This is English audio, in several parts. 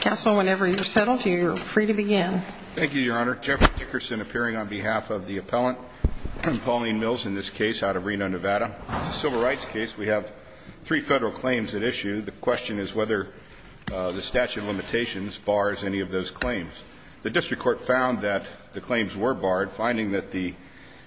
Counsel, whenever you're settled, you're free to begin. Thank you, Your Honor. Jeffrey Dickerson appearing on behalf of the appellant, Pauline Mills, in this case, out of Reno, Nevada. It's a civil rights case. We have three Federal claims at issue. The question is whether the statute of limitations bars any of those claims. The district court found that the claims were barred, finding that the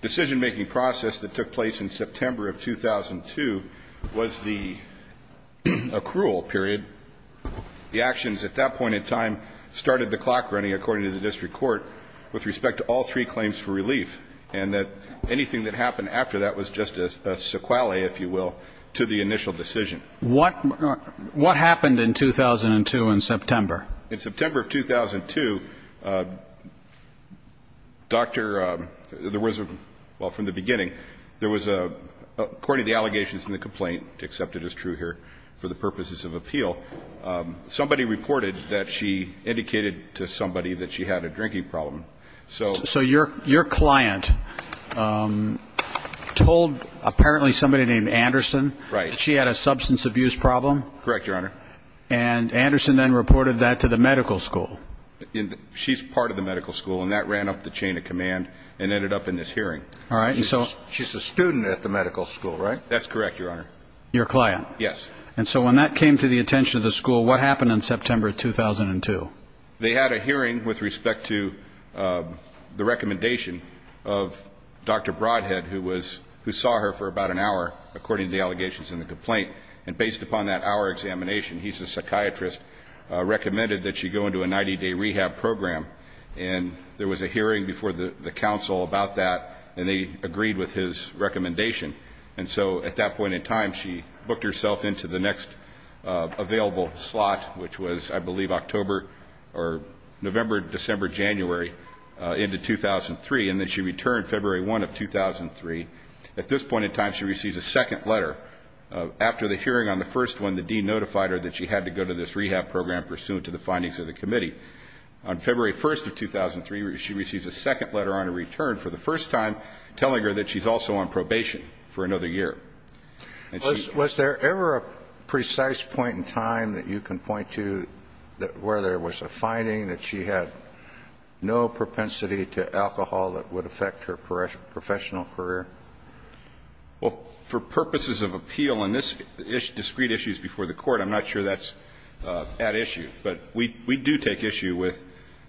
decision-making process that took place in September of 2002 was the accrual period. The actions at that point in time started the clock running, according to the district court, with respect to all three claims for relief, and that anything that happened after that was just a sequelae, if you will, to the initial decision. What happened in 2002 in September? In September of 2002, Dr. – there was a – well, from the beginning, there was a – according to the allegations in the complaint, accepted as true here for the purposes of appeal, somebody reported that she indicated to somebody that she had a drinking problem. So your client told apparently somebody named Anderson that she had a substance abuse problem? Correct, Your Honor. And Anderson then reported that to the medical school? She's part of the medical school, and that ran up the chain of command and ended up in this hearing. All right. She's a student at the medical school, right? That's correct, Your Honor. Your client? Yes. And so when that came to the attention of the school, what happened in September of 2002? They had a hearing with respect to the recommendation of Dr. Broadhead, who was – who saw her for about an hour, according to the allegations in the complaint. And based upon that hour examination, he's a psychiatrist, recommended that she go into a 90-day rehab program. And there was a hearing before the counsel about that, and they agreed with his recommendation. And so at that point in time, she booked herself into the next available slot, which was, I believe, October or November, December, January into 2003, and then she returned February 1 of 2003. At this point in time, she receives a second letter. After the hearing on the first one, the dean notified her that she had to go to this rehab program, On February 1 of 2003, she receives a second letter on her return for the first time telling her that she's also on probation for another year. Was there ever a precise point in time that you can point to where there was a finding that she had no propensity to alcohol that would affect her professional career? Well, for purposes of appeal in this – discrete issues before the Court, I'm not sure that's at issue. But we do take issue with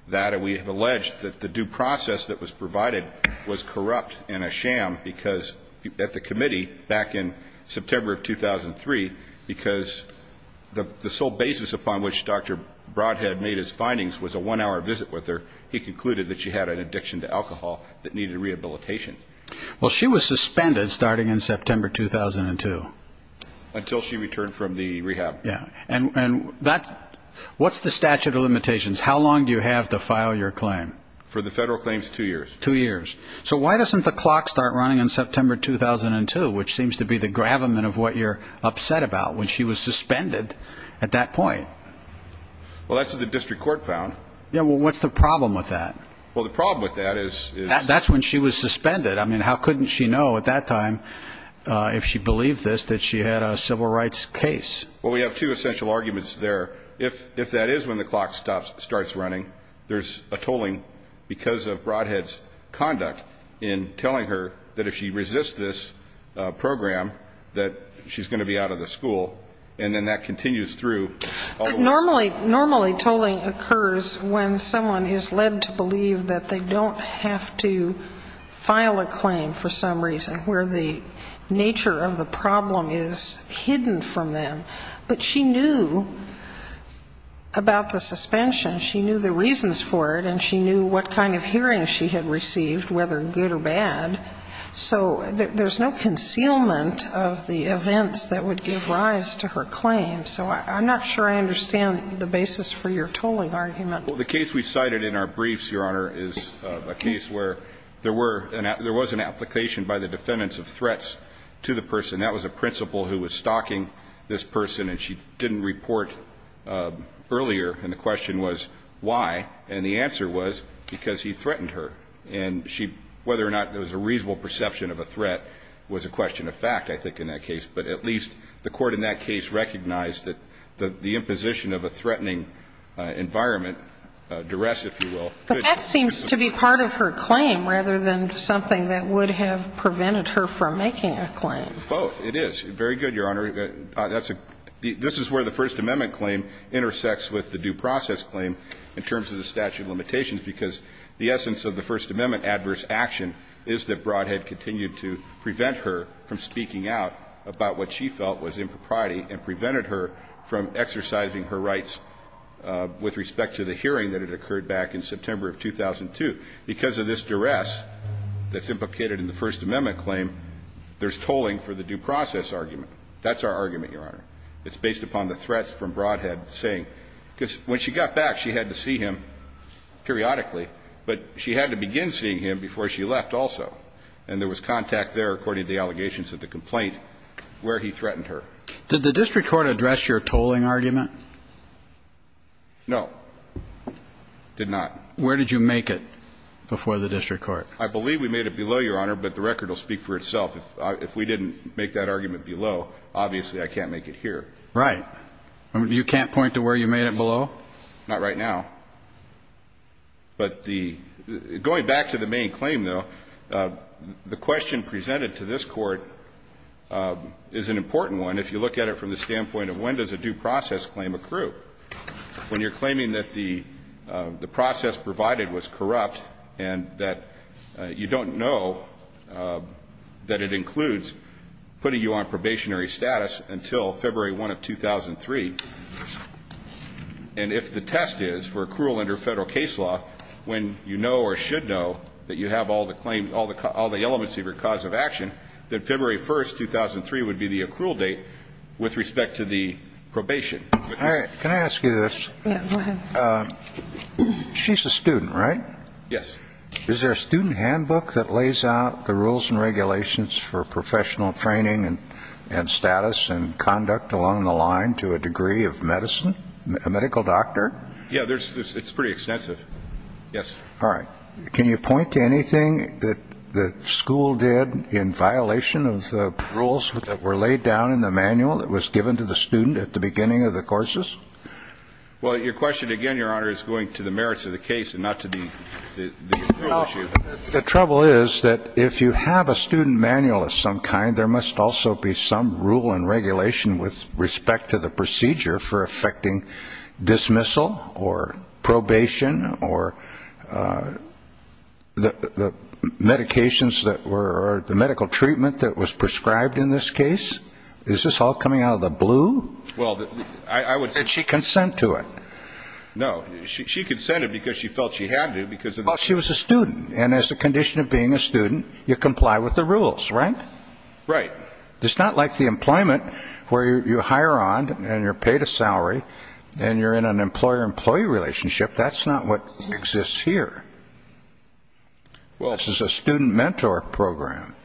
that, and we have alleged that the due process that was provided was corrupt and a sham because at the committee back in September of 2003, because the sole basis upon which Dr. Broadhead made his findings was a one-hour visit with her, he concluded that she had an addiction to alcohol that needed rehabilitation. Well, she was suspended starting in September 2002. Until she returned from the rehab. Yeah. And that – what's the statute of limitations? How long do you have to file your claim? For the federal claims, two years. Two years. So why doesn't the clock start running in September 2002, which seems to be the gravamen of what you're upset about, when she was suspended at that point? Well, that's what the district court found. Yeah, well, what's the problem with that? Well, the problem with that is – I mean, that's when she was suspended. I mean, how couldn't she know at that time, if she believed this, that she had a civil rights case? Well, we have two essential arguments there. If that is when the clock starts running, there's a tolling because of Broadhead's conduct in telling her that if she resists this program, that she's going to be out of the school, and then that continues through. But normally tolling occurs when someone is led to believe that they don't have to file a claim for some reason, where the nature of the problem is hidden from them. But she knew about the suspension. She knew the reasons for it, and she knew what kind of hearing she had received, whether good or bad. So there's no concealment of the events that would give rise to her claim. So I'm not sure I understand the basis for your tolling argument. Well, the case we cited in our briefs, Your Honor, is a case where there were – there was an application by the defendants of threats to the person. That was a principal who was stalking this person, and she didn't report earlier, and the question was why. And the answer was because he threatened her. And she – whether or not there was a reasonable perception of a threat was a question of fact, I think, in that case. But at least the Court in that case recognized that the imposition of a threatening environment, duress, if you will, could be a possibility. But that seems to be part of her claim rather than something that would have prevented her from making a claim. Both. It is. Very good, Your Honor. That's a – this is where the First Amendment claim intersects with the due process claim in terms of the statute of limitations, because the essence of the First Amendment adverse action is that Brodhead continued to prevent her from speaking out about what she felt was impropriety and prevented her from exercising her rights with respect to the hearing that had occurred back in September of 2002. Because of this duress that's implicated in the First Amendment claim, there's tolling for the due process argument. That's our argument, Your Honor. It's based upon the threats from Brodhead saying – because when she got back, she had to begin seeing him before she left also. And there was contact there, according to the allegations of the complaint, where he threatened her. Did the district court address your tolling argument? No. Did not. Where did you make it before the district court? I believe we made it below, Your Honor, but the record will speak for itself. If we didn't make that argument below, obviously I can't make it here. Right. You can't point to where you made it below? Not right now. But the – going back to the main claim, though, the question presented to this court is an important one if you look at it from the standpoint of when does a due process claim accrue. When you're claiming that the process provided was corrupt and that you don't know that it includes putting you on probationary status until February 1 of 2003, and if the test is, for accrual under federal case law, when you know or should know that you have all the claims – all the elements of your cause of action, that February 1, 2003 would be the accrual date with respect to the probation. All right. Can I ask you this? Yeah. Go ahead. She's a student, right? Yes. Is there a student handbook that lays out the rules and regulations for a medical doctor? Yeah. It's pretty extensive. Yes. All right. Can you point to anything that the school did in violation of the rules that were laid down in the manual that was given to the student at the beginning of the courses? Well, your question, again, Your Honor, is going to the merits of the case and not to the issue. Well, the trouble is that if you have a student manual of some kind, there must also be some rule and regulation with respect to the procedure for effecting dismissal or probation or the medications that were – or the medical treatment that was prescribed in this case. Is this all coming out of the blue? Well, I would say – Did she consent to it? No. She consented because she felt she had to because of the – Well, she was a student. And as a condition of being a student, you comply with the rules, right? Right. It's not like the employment where you hire on and you're paid a salary and you're in an employer-employee relationship. That's not what exists here. Well – This is a student mentor program.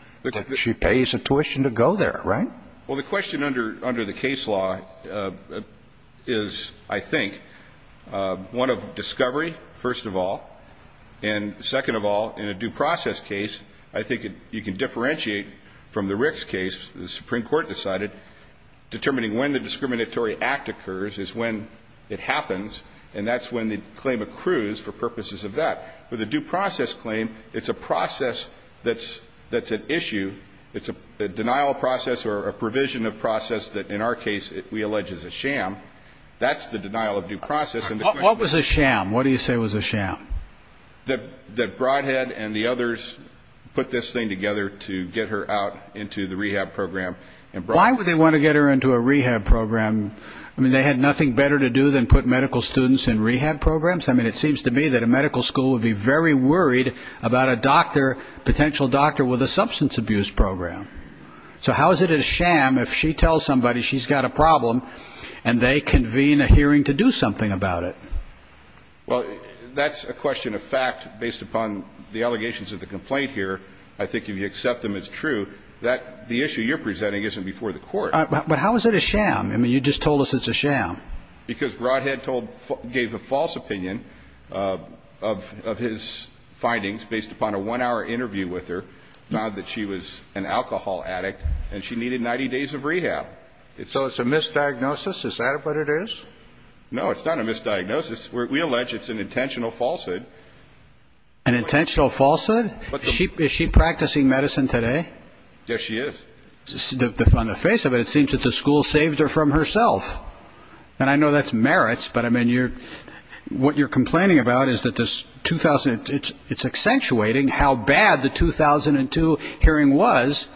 She pays a tuition to go there, right? Well, the question under the case law is, I think, one of discovery, first of all, and second of all, in a due process case, I think you can differentiate from the Ricks case. The Supreme Court decided determining when the discriminatory act occurs is when it happens, and that's when the claim accrues for purposes of that. With a due process claim, it's a process that's at issue. It's a denial process or a provision of process that, in our case, we allege is a sham. That's the denial of due process. What was a sham? What do you say was a sham? That Broadhead and the others put this thing together to get her out into the rehab program. Why would they want to get her into a rehab program? I mean, they had nothing better to do than put medical students in rehab programs. I mean, it seems to me that a medical school would be very worried about a doctor, potential doctor, with a substance abuse program. So how is it a sham if she tells somebody she's got a problem and they convene a hearing to do something about it? Well, that's a question of fact based upon the allegations of the complaint here. I think if you accept them as true, that the issue you're presenting isn't before the Court. But how is it a sham? I mean, you just told us it's a sham. Because Broadhead gave a false opinion of his findings based upon a one-hour interview with her, found that she was an alcohol addict, and she needed 90 days of rehab. So it's a misdiagnosis? Is that what it is? No, it's not a misdiagnosis. We allege it's an intentional falsehood. An intentional falsehood? Is she practicing medicine today? Yes, she is. On the face of it, it seems that the school saved her from herself. And I know that's merits, but, I mean, what you're complaining about is that it's accentuating how bad the 2002 hearing was.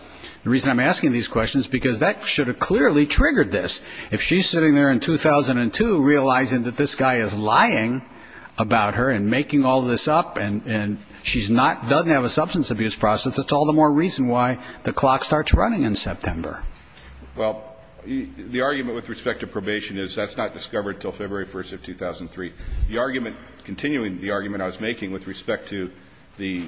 The reason I'm asking these questions is because that should have clearly triggered this. If she's sitting there in 2002 realizing that this guy is lying about her and making all this up, and she's not, doesn't have a substance abuse process, it's all the more reason why the clock starts running in September. Well, the argument with respect to probation is that's not discovered until February 1st of 2003. The argument, continuing the argument I was making with respect to the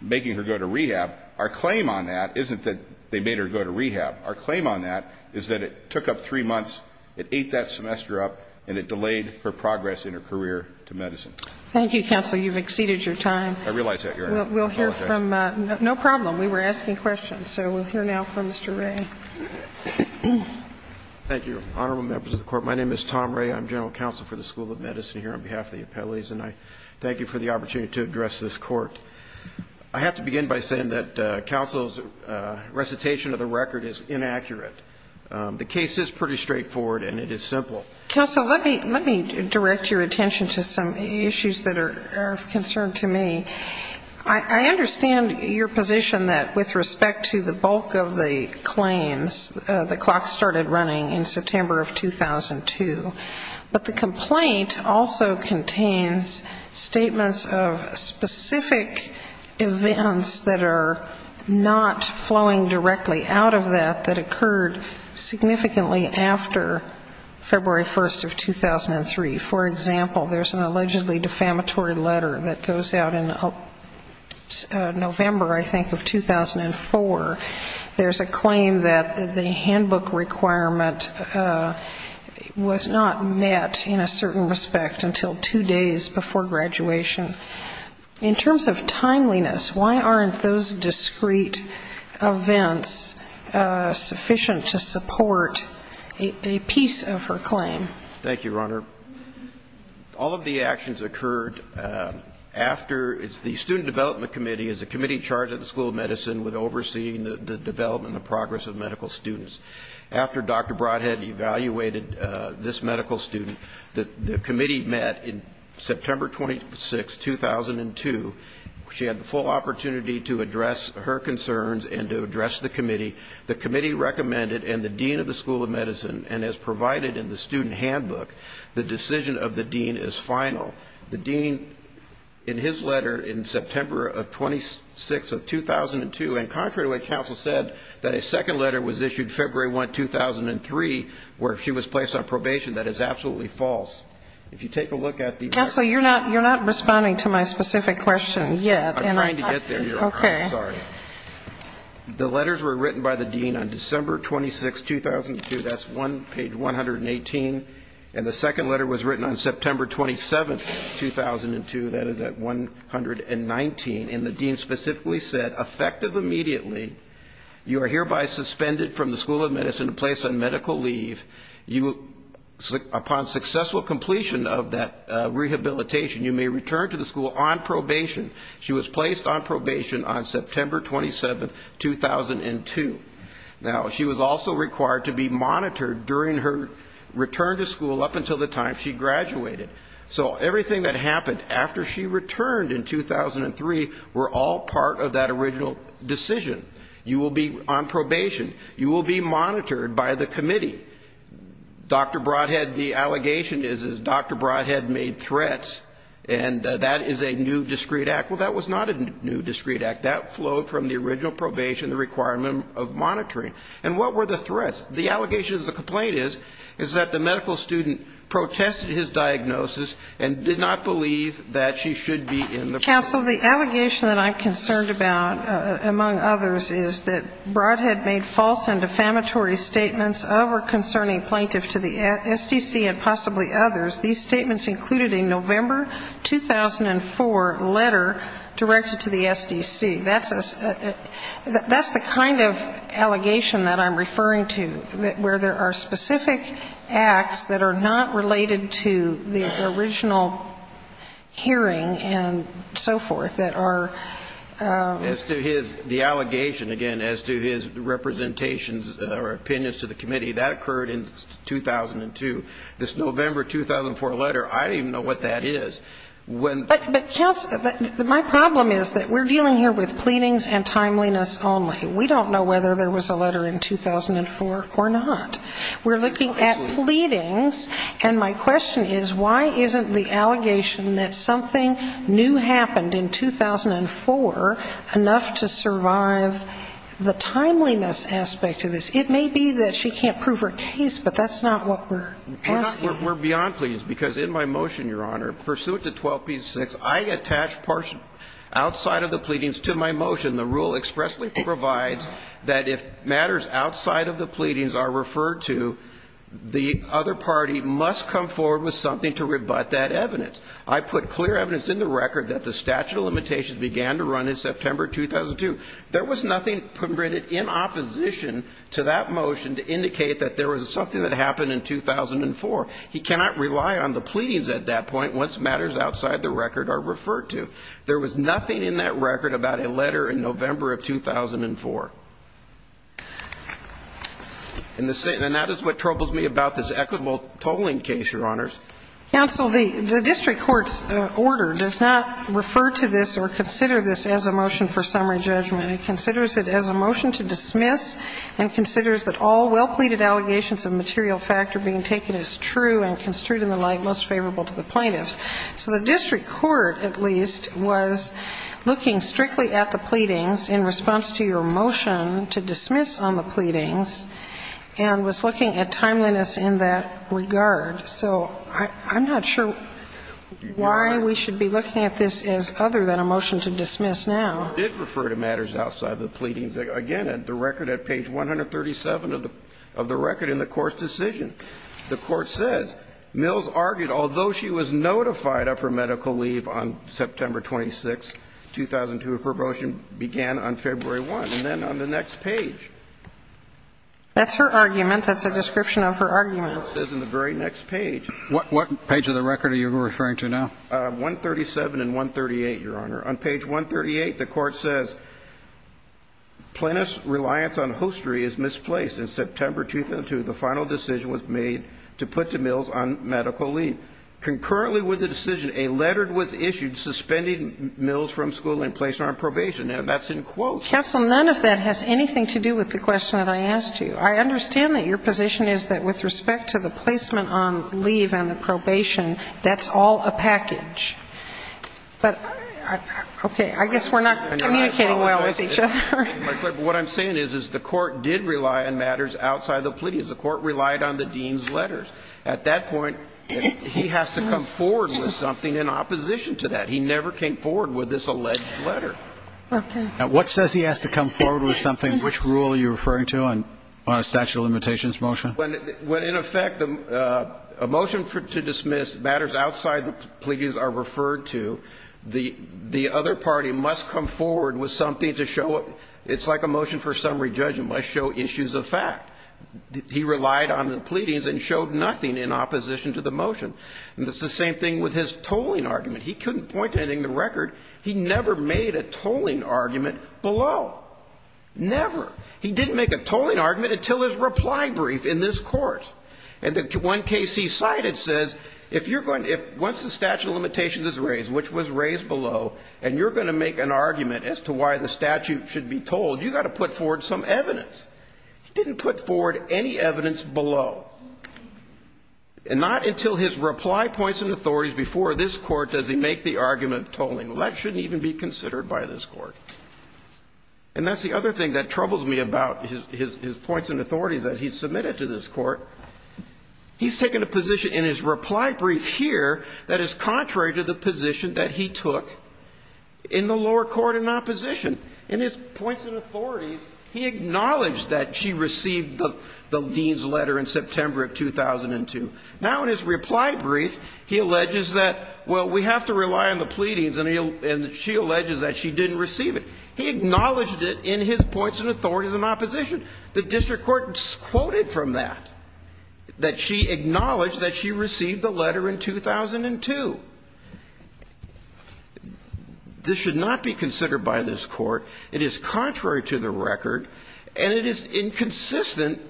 making her go to rehab, our claim on that isn't that they made her go to rehab. Our claim on that is that it took up three months, it ate that semester up, and it delayed her progress in her career to medicine. Thank you, counsel. You've exceeded your time. I realize that, Your Honor. I apologize. We'll hear from, no problem. We were asking questions. So we'll hear now from Mr. Ray. Thank you, Honorable Members of the Court. My name is Tom Ray. I'm general counsel for the School of Medicine here on behalf of the appellees, and I thank you for the opportunity to address this Court. I have to begin by saying that counsel's recitation of the record is inaccurate. The case is pretty straightforward, and it is simple. Counsel, let me direct your attention to some issues that are of concern to me. I understand your position that with respect to the bulk of the claims, the clock started running in September of 2002. But the complaint also contains statements of specific events that are not flowing directly out of that, that occurred significantly after February 1st of 2003. For example, there's an allegedly defamatory letter that goes out in November, I think, of 2004. There's a claim that the handbook requirement was not met in a certain respect until two days before graduation. In terms of timeliness, why aren't those discrete events sufficient to support a piece of her claim? Thank you, Your Honor. All of the actions occurred after the Student Development Committee, as the committee charged at the School of Medicine with overseeing the development and progress of medical students. After Dr. Broadhead evaluated this medical student, the committee met in September 26, 2002. She had the full opportunity to address her concerns and to address the committee. The committee recommended, and the dean of the School of Medicine, and as provided in the student handbook, the decision of the dean is final. The dean, in his letter in September of 2006, of 2002, and contrary to what counsel said, that a second letter was issued February 1, 2003, where she was placed on probation, that is absolutely false. If you take a look at the letter... Counsel, you're not responding to my specific question yet. I'm trying to get there, Your Honor. I'm sorry. The letters were written by the dean on December 26, 2002. That's page 118. And the second letter was written on September 27, 2002. That is at 119. And the dean specifically said, effective immediately, you are hereby suspended from the School of Medicine and placed on medical leave. Upon successful completion of that rehabilitation, you may return to the school on probation. She was placed on probation on September 27, 2002. Now, she was also required to be monitored during her return to school up until the time she graduated. So everything that happened after she returned in 2003 were all part of that original decision. You will be on probation. You will be monitored by the committee. Dr. Brodhead, the allegation is, is Dr. Brodhead made threats, and that is a new discreet act. Well, that was not a new discreet act. That flowed from the original probation, the requirement of monitoring. And what were the threats? The allegation is, the complaint is, is that the medical student protested his diagnosis and did not believe that she should be in the program. Ms. Counsel, the allegation that I'm concerned about, among others, is that Brodhead made false and defamatory statements over concerning plaintiff to the SDC and possibly others. These statements included a November 2004 letter directed to the SDC. That's a, that's the kind of allegation that I'm referring to, where there are specific acts that are not related to the original hearing and so forth that are... As to his, the allegation, again, as to his representations or opinions to the committee, that occurred in 2002. This November 2004 letter, I don't even know what that is. But, but, counsel, my problem is that we're dealing here with pleadings and timeliness only. We don't know whether there was a letter in 2004 or not. We're looking at pleadings, and my question is, why isn't the allegation that something new happened in 2004 enough to survive the timeliness aspect of this? It may be that she can't prove her case, but that's not what we're asking. We're beyond pleadings, because in my motion, Your Honor, pursuant to 12p6, I attach partial outside of the pleadings to my motion. The rule expressly provides that if matters outside of the pleadings are referred to, the other party must come forward with something to rebut that evidence. I put clear evidence in the record that the statute of limitations began to run in September 2002. There was nothing permitted in opposition to that motion to indicate that there was something that happened in 2004. He cannot rely on the pleadings at that point once matters outside the record are referred to. There was nothing in that record about a letter in November of 2004. And that is what troubles me about this equitable tolling case, Your Honors. Counsel, the district court's order does not refer to this or consider this as a motion for summary judgment. It considers it as a motion to dismiss and considers that all well-pleaded allegations of material factor being taken as true and construed in the light most favorable to the plaintiffs. So the district court, at least, was looking strictly at the pleadings in response to your motion to dismiss on the pleadings and was looking at timeliness in that regard. So I'm not sure why we should be looking at this as other than a motion to dismiss now. It did refer to matters outside of the pleadings, again, in the record at page 137 of the record in the court's decision. The court says Mills argued, although she was notified of her medical leave on September 26, 2002, her promotion began on February 1. And then on the next page. That's her argument. That's a description of her argument. What page of the record are you referring to now? 137 and 138, Your Honor. On page 138, the court says, plaintiff's reliance on hostry is misplaced. In September 2002, the final decision was made to put to Mills on medical leave. Concurrently with the decision, a letter was issued suspending Mills from school and placing her on probation. And that's in quotes. Counsel, none of that has anything to do with the question that I asked you. I understand that your position is that with respect to the placement on leave and the probation, that's all a package. But, okay, I guess we're not communicating well with each other. What I'm saying is, is the court did rely on matters outside the pleadings. The court relied on the dean's letters. At that point, he has to come forward with something in opposition to that. He never came forward with this alleged letter. Now, what says he has to come forward with something? Which rule are you referring to on a statute of limitations motion? Well, in effect, a motion to dismiss matters outside the pleadings are referred to. The other party must come forward with something to show it. It's like a motion for summary judgment, must show issues of fact. He relied on the pleadings and showed nothing in opposition to the motion. And it's the same thing with his tolling argument. He never made a tolling argument below, never. He didn't make a tolling argument until his reply brief in this court. And the one case he cited says, if you're going to — once the statute of limitations is raised, which was raised below, and you're going to make an argument as to why the statute should be tolled, you've got to put forward some evidence. He didn't put forward any evidence below. And not until his reply points and authorities before this Court does he make the argument of tolling. Well, that shouldn't even be considered by this Court. And that's the other thing that troubles me about his points and authorities that he submitted to this Court. He's taken a position in his reply brief here that is contrary to the position that he took in the lower court in opposition. In his points and authorities, he acknowledged that she received the dean's letter in September of 2002. Now, in his reply brief, he alleges that, well, we have to rely on the pleadings, and she alleges that she didn't receive it. He acknowledged it in his points and authorities in opposition. The district court quoted from that, that she acknowledged that she received the letter in 2002. This should not be considered by this Court. It is contrary to the record, and it is inconsistent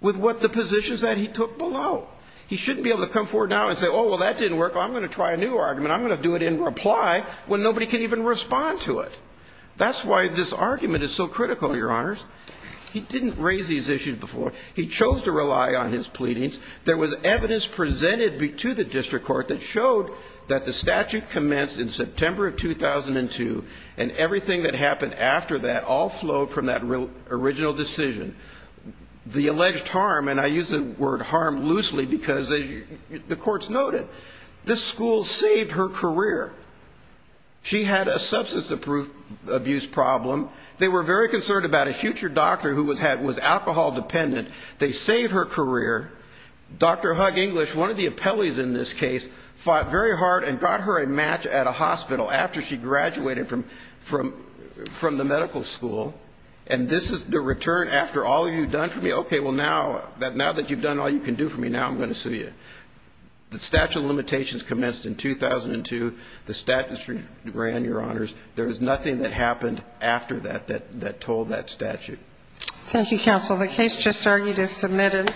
with what the positions that he took below. He shouldn't be able to come forward now and say, oh, well, that didn't work. I'm going to try a new argument. I'm going to do it in reply when nobody can even respond to it. That's why this argument is so critical, Your Honors. He didn't raise these issues before. He chose to rely on his pleadings. There was evidence presented to the district court that showed that the statute commenced in September of 2002, and everything that happened after that all flowed from that original decision. The alleged harm, and I use the word harm loosely because, as the courts noted, this school saved her career. She had a substance abuse problem. They were very concerned about a future doctor who was alcohol dependent. They saved her career. Dr. Hug-English, one of the appellees in this case, fought very hard and got her a match at a hospital after she graduated from the medical school. And this is the return after all you've done for me? Okay, well, now that you've done all you can do for me, now I'm going to sue you. The statute of limitations commenced in 2002. The statute ran, Your Honors. There was nothing that happened after that that told that statute. Thank you, counsel. The case just argued is submitted.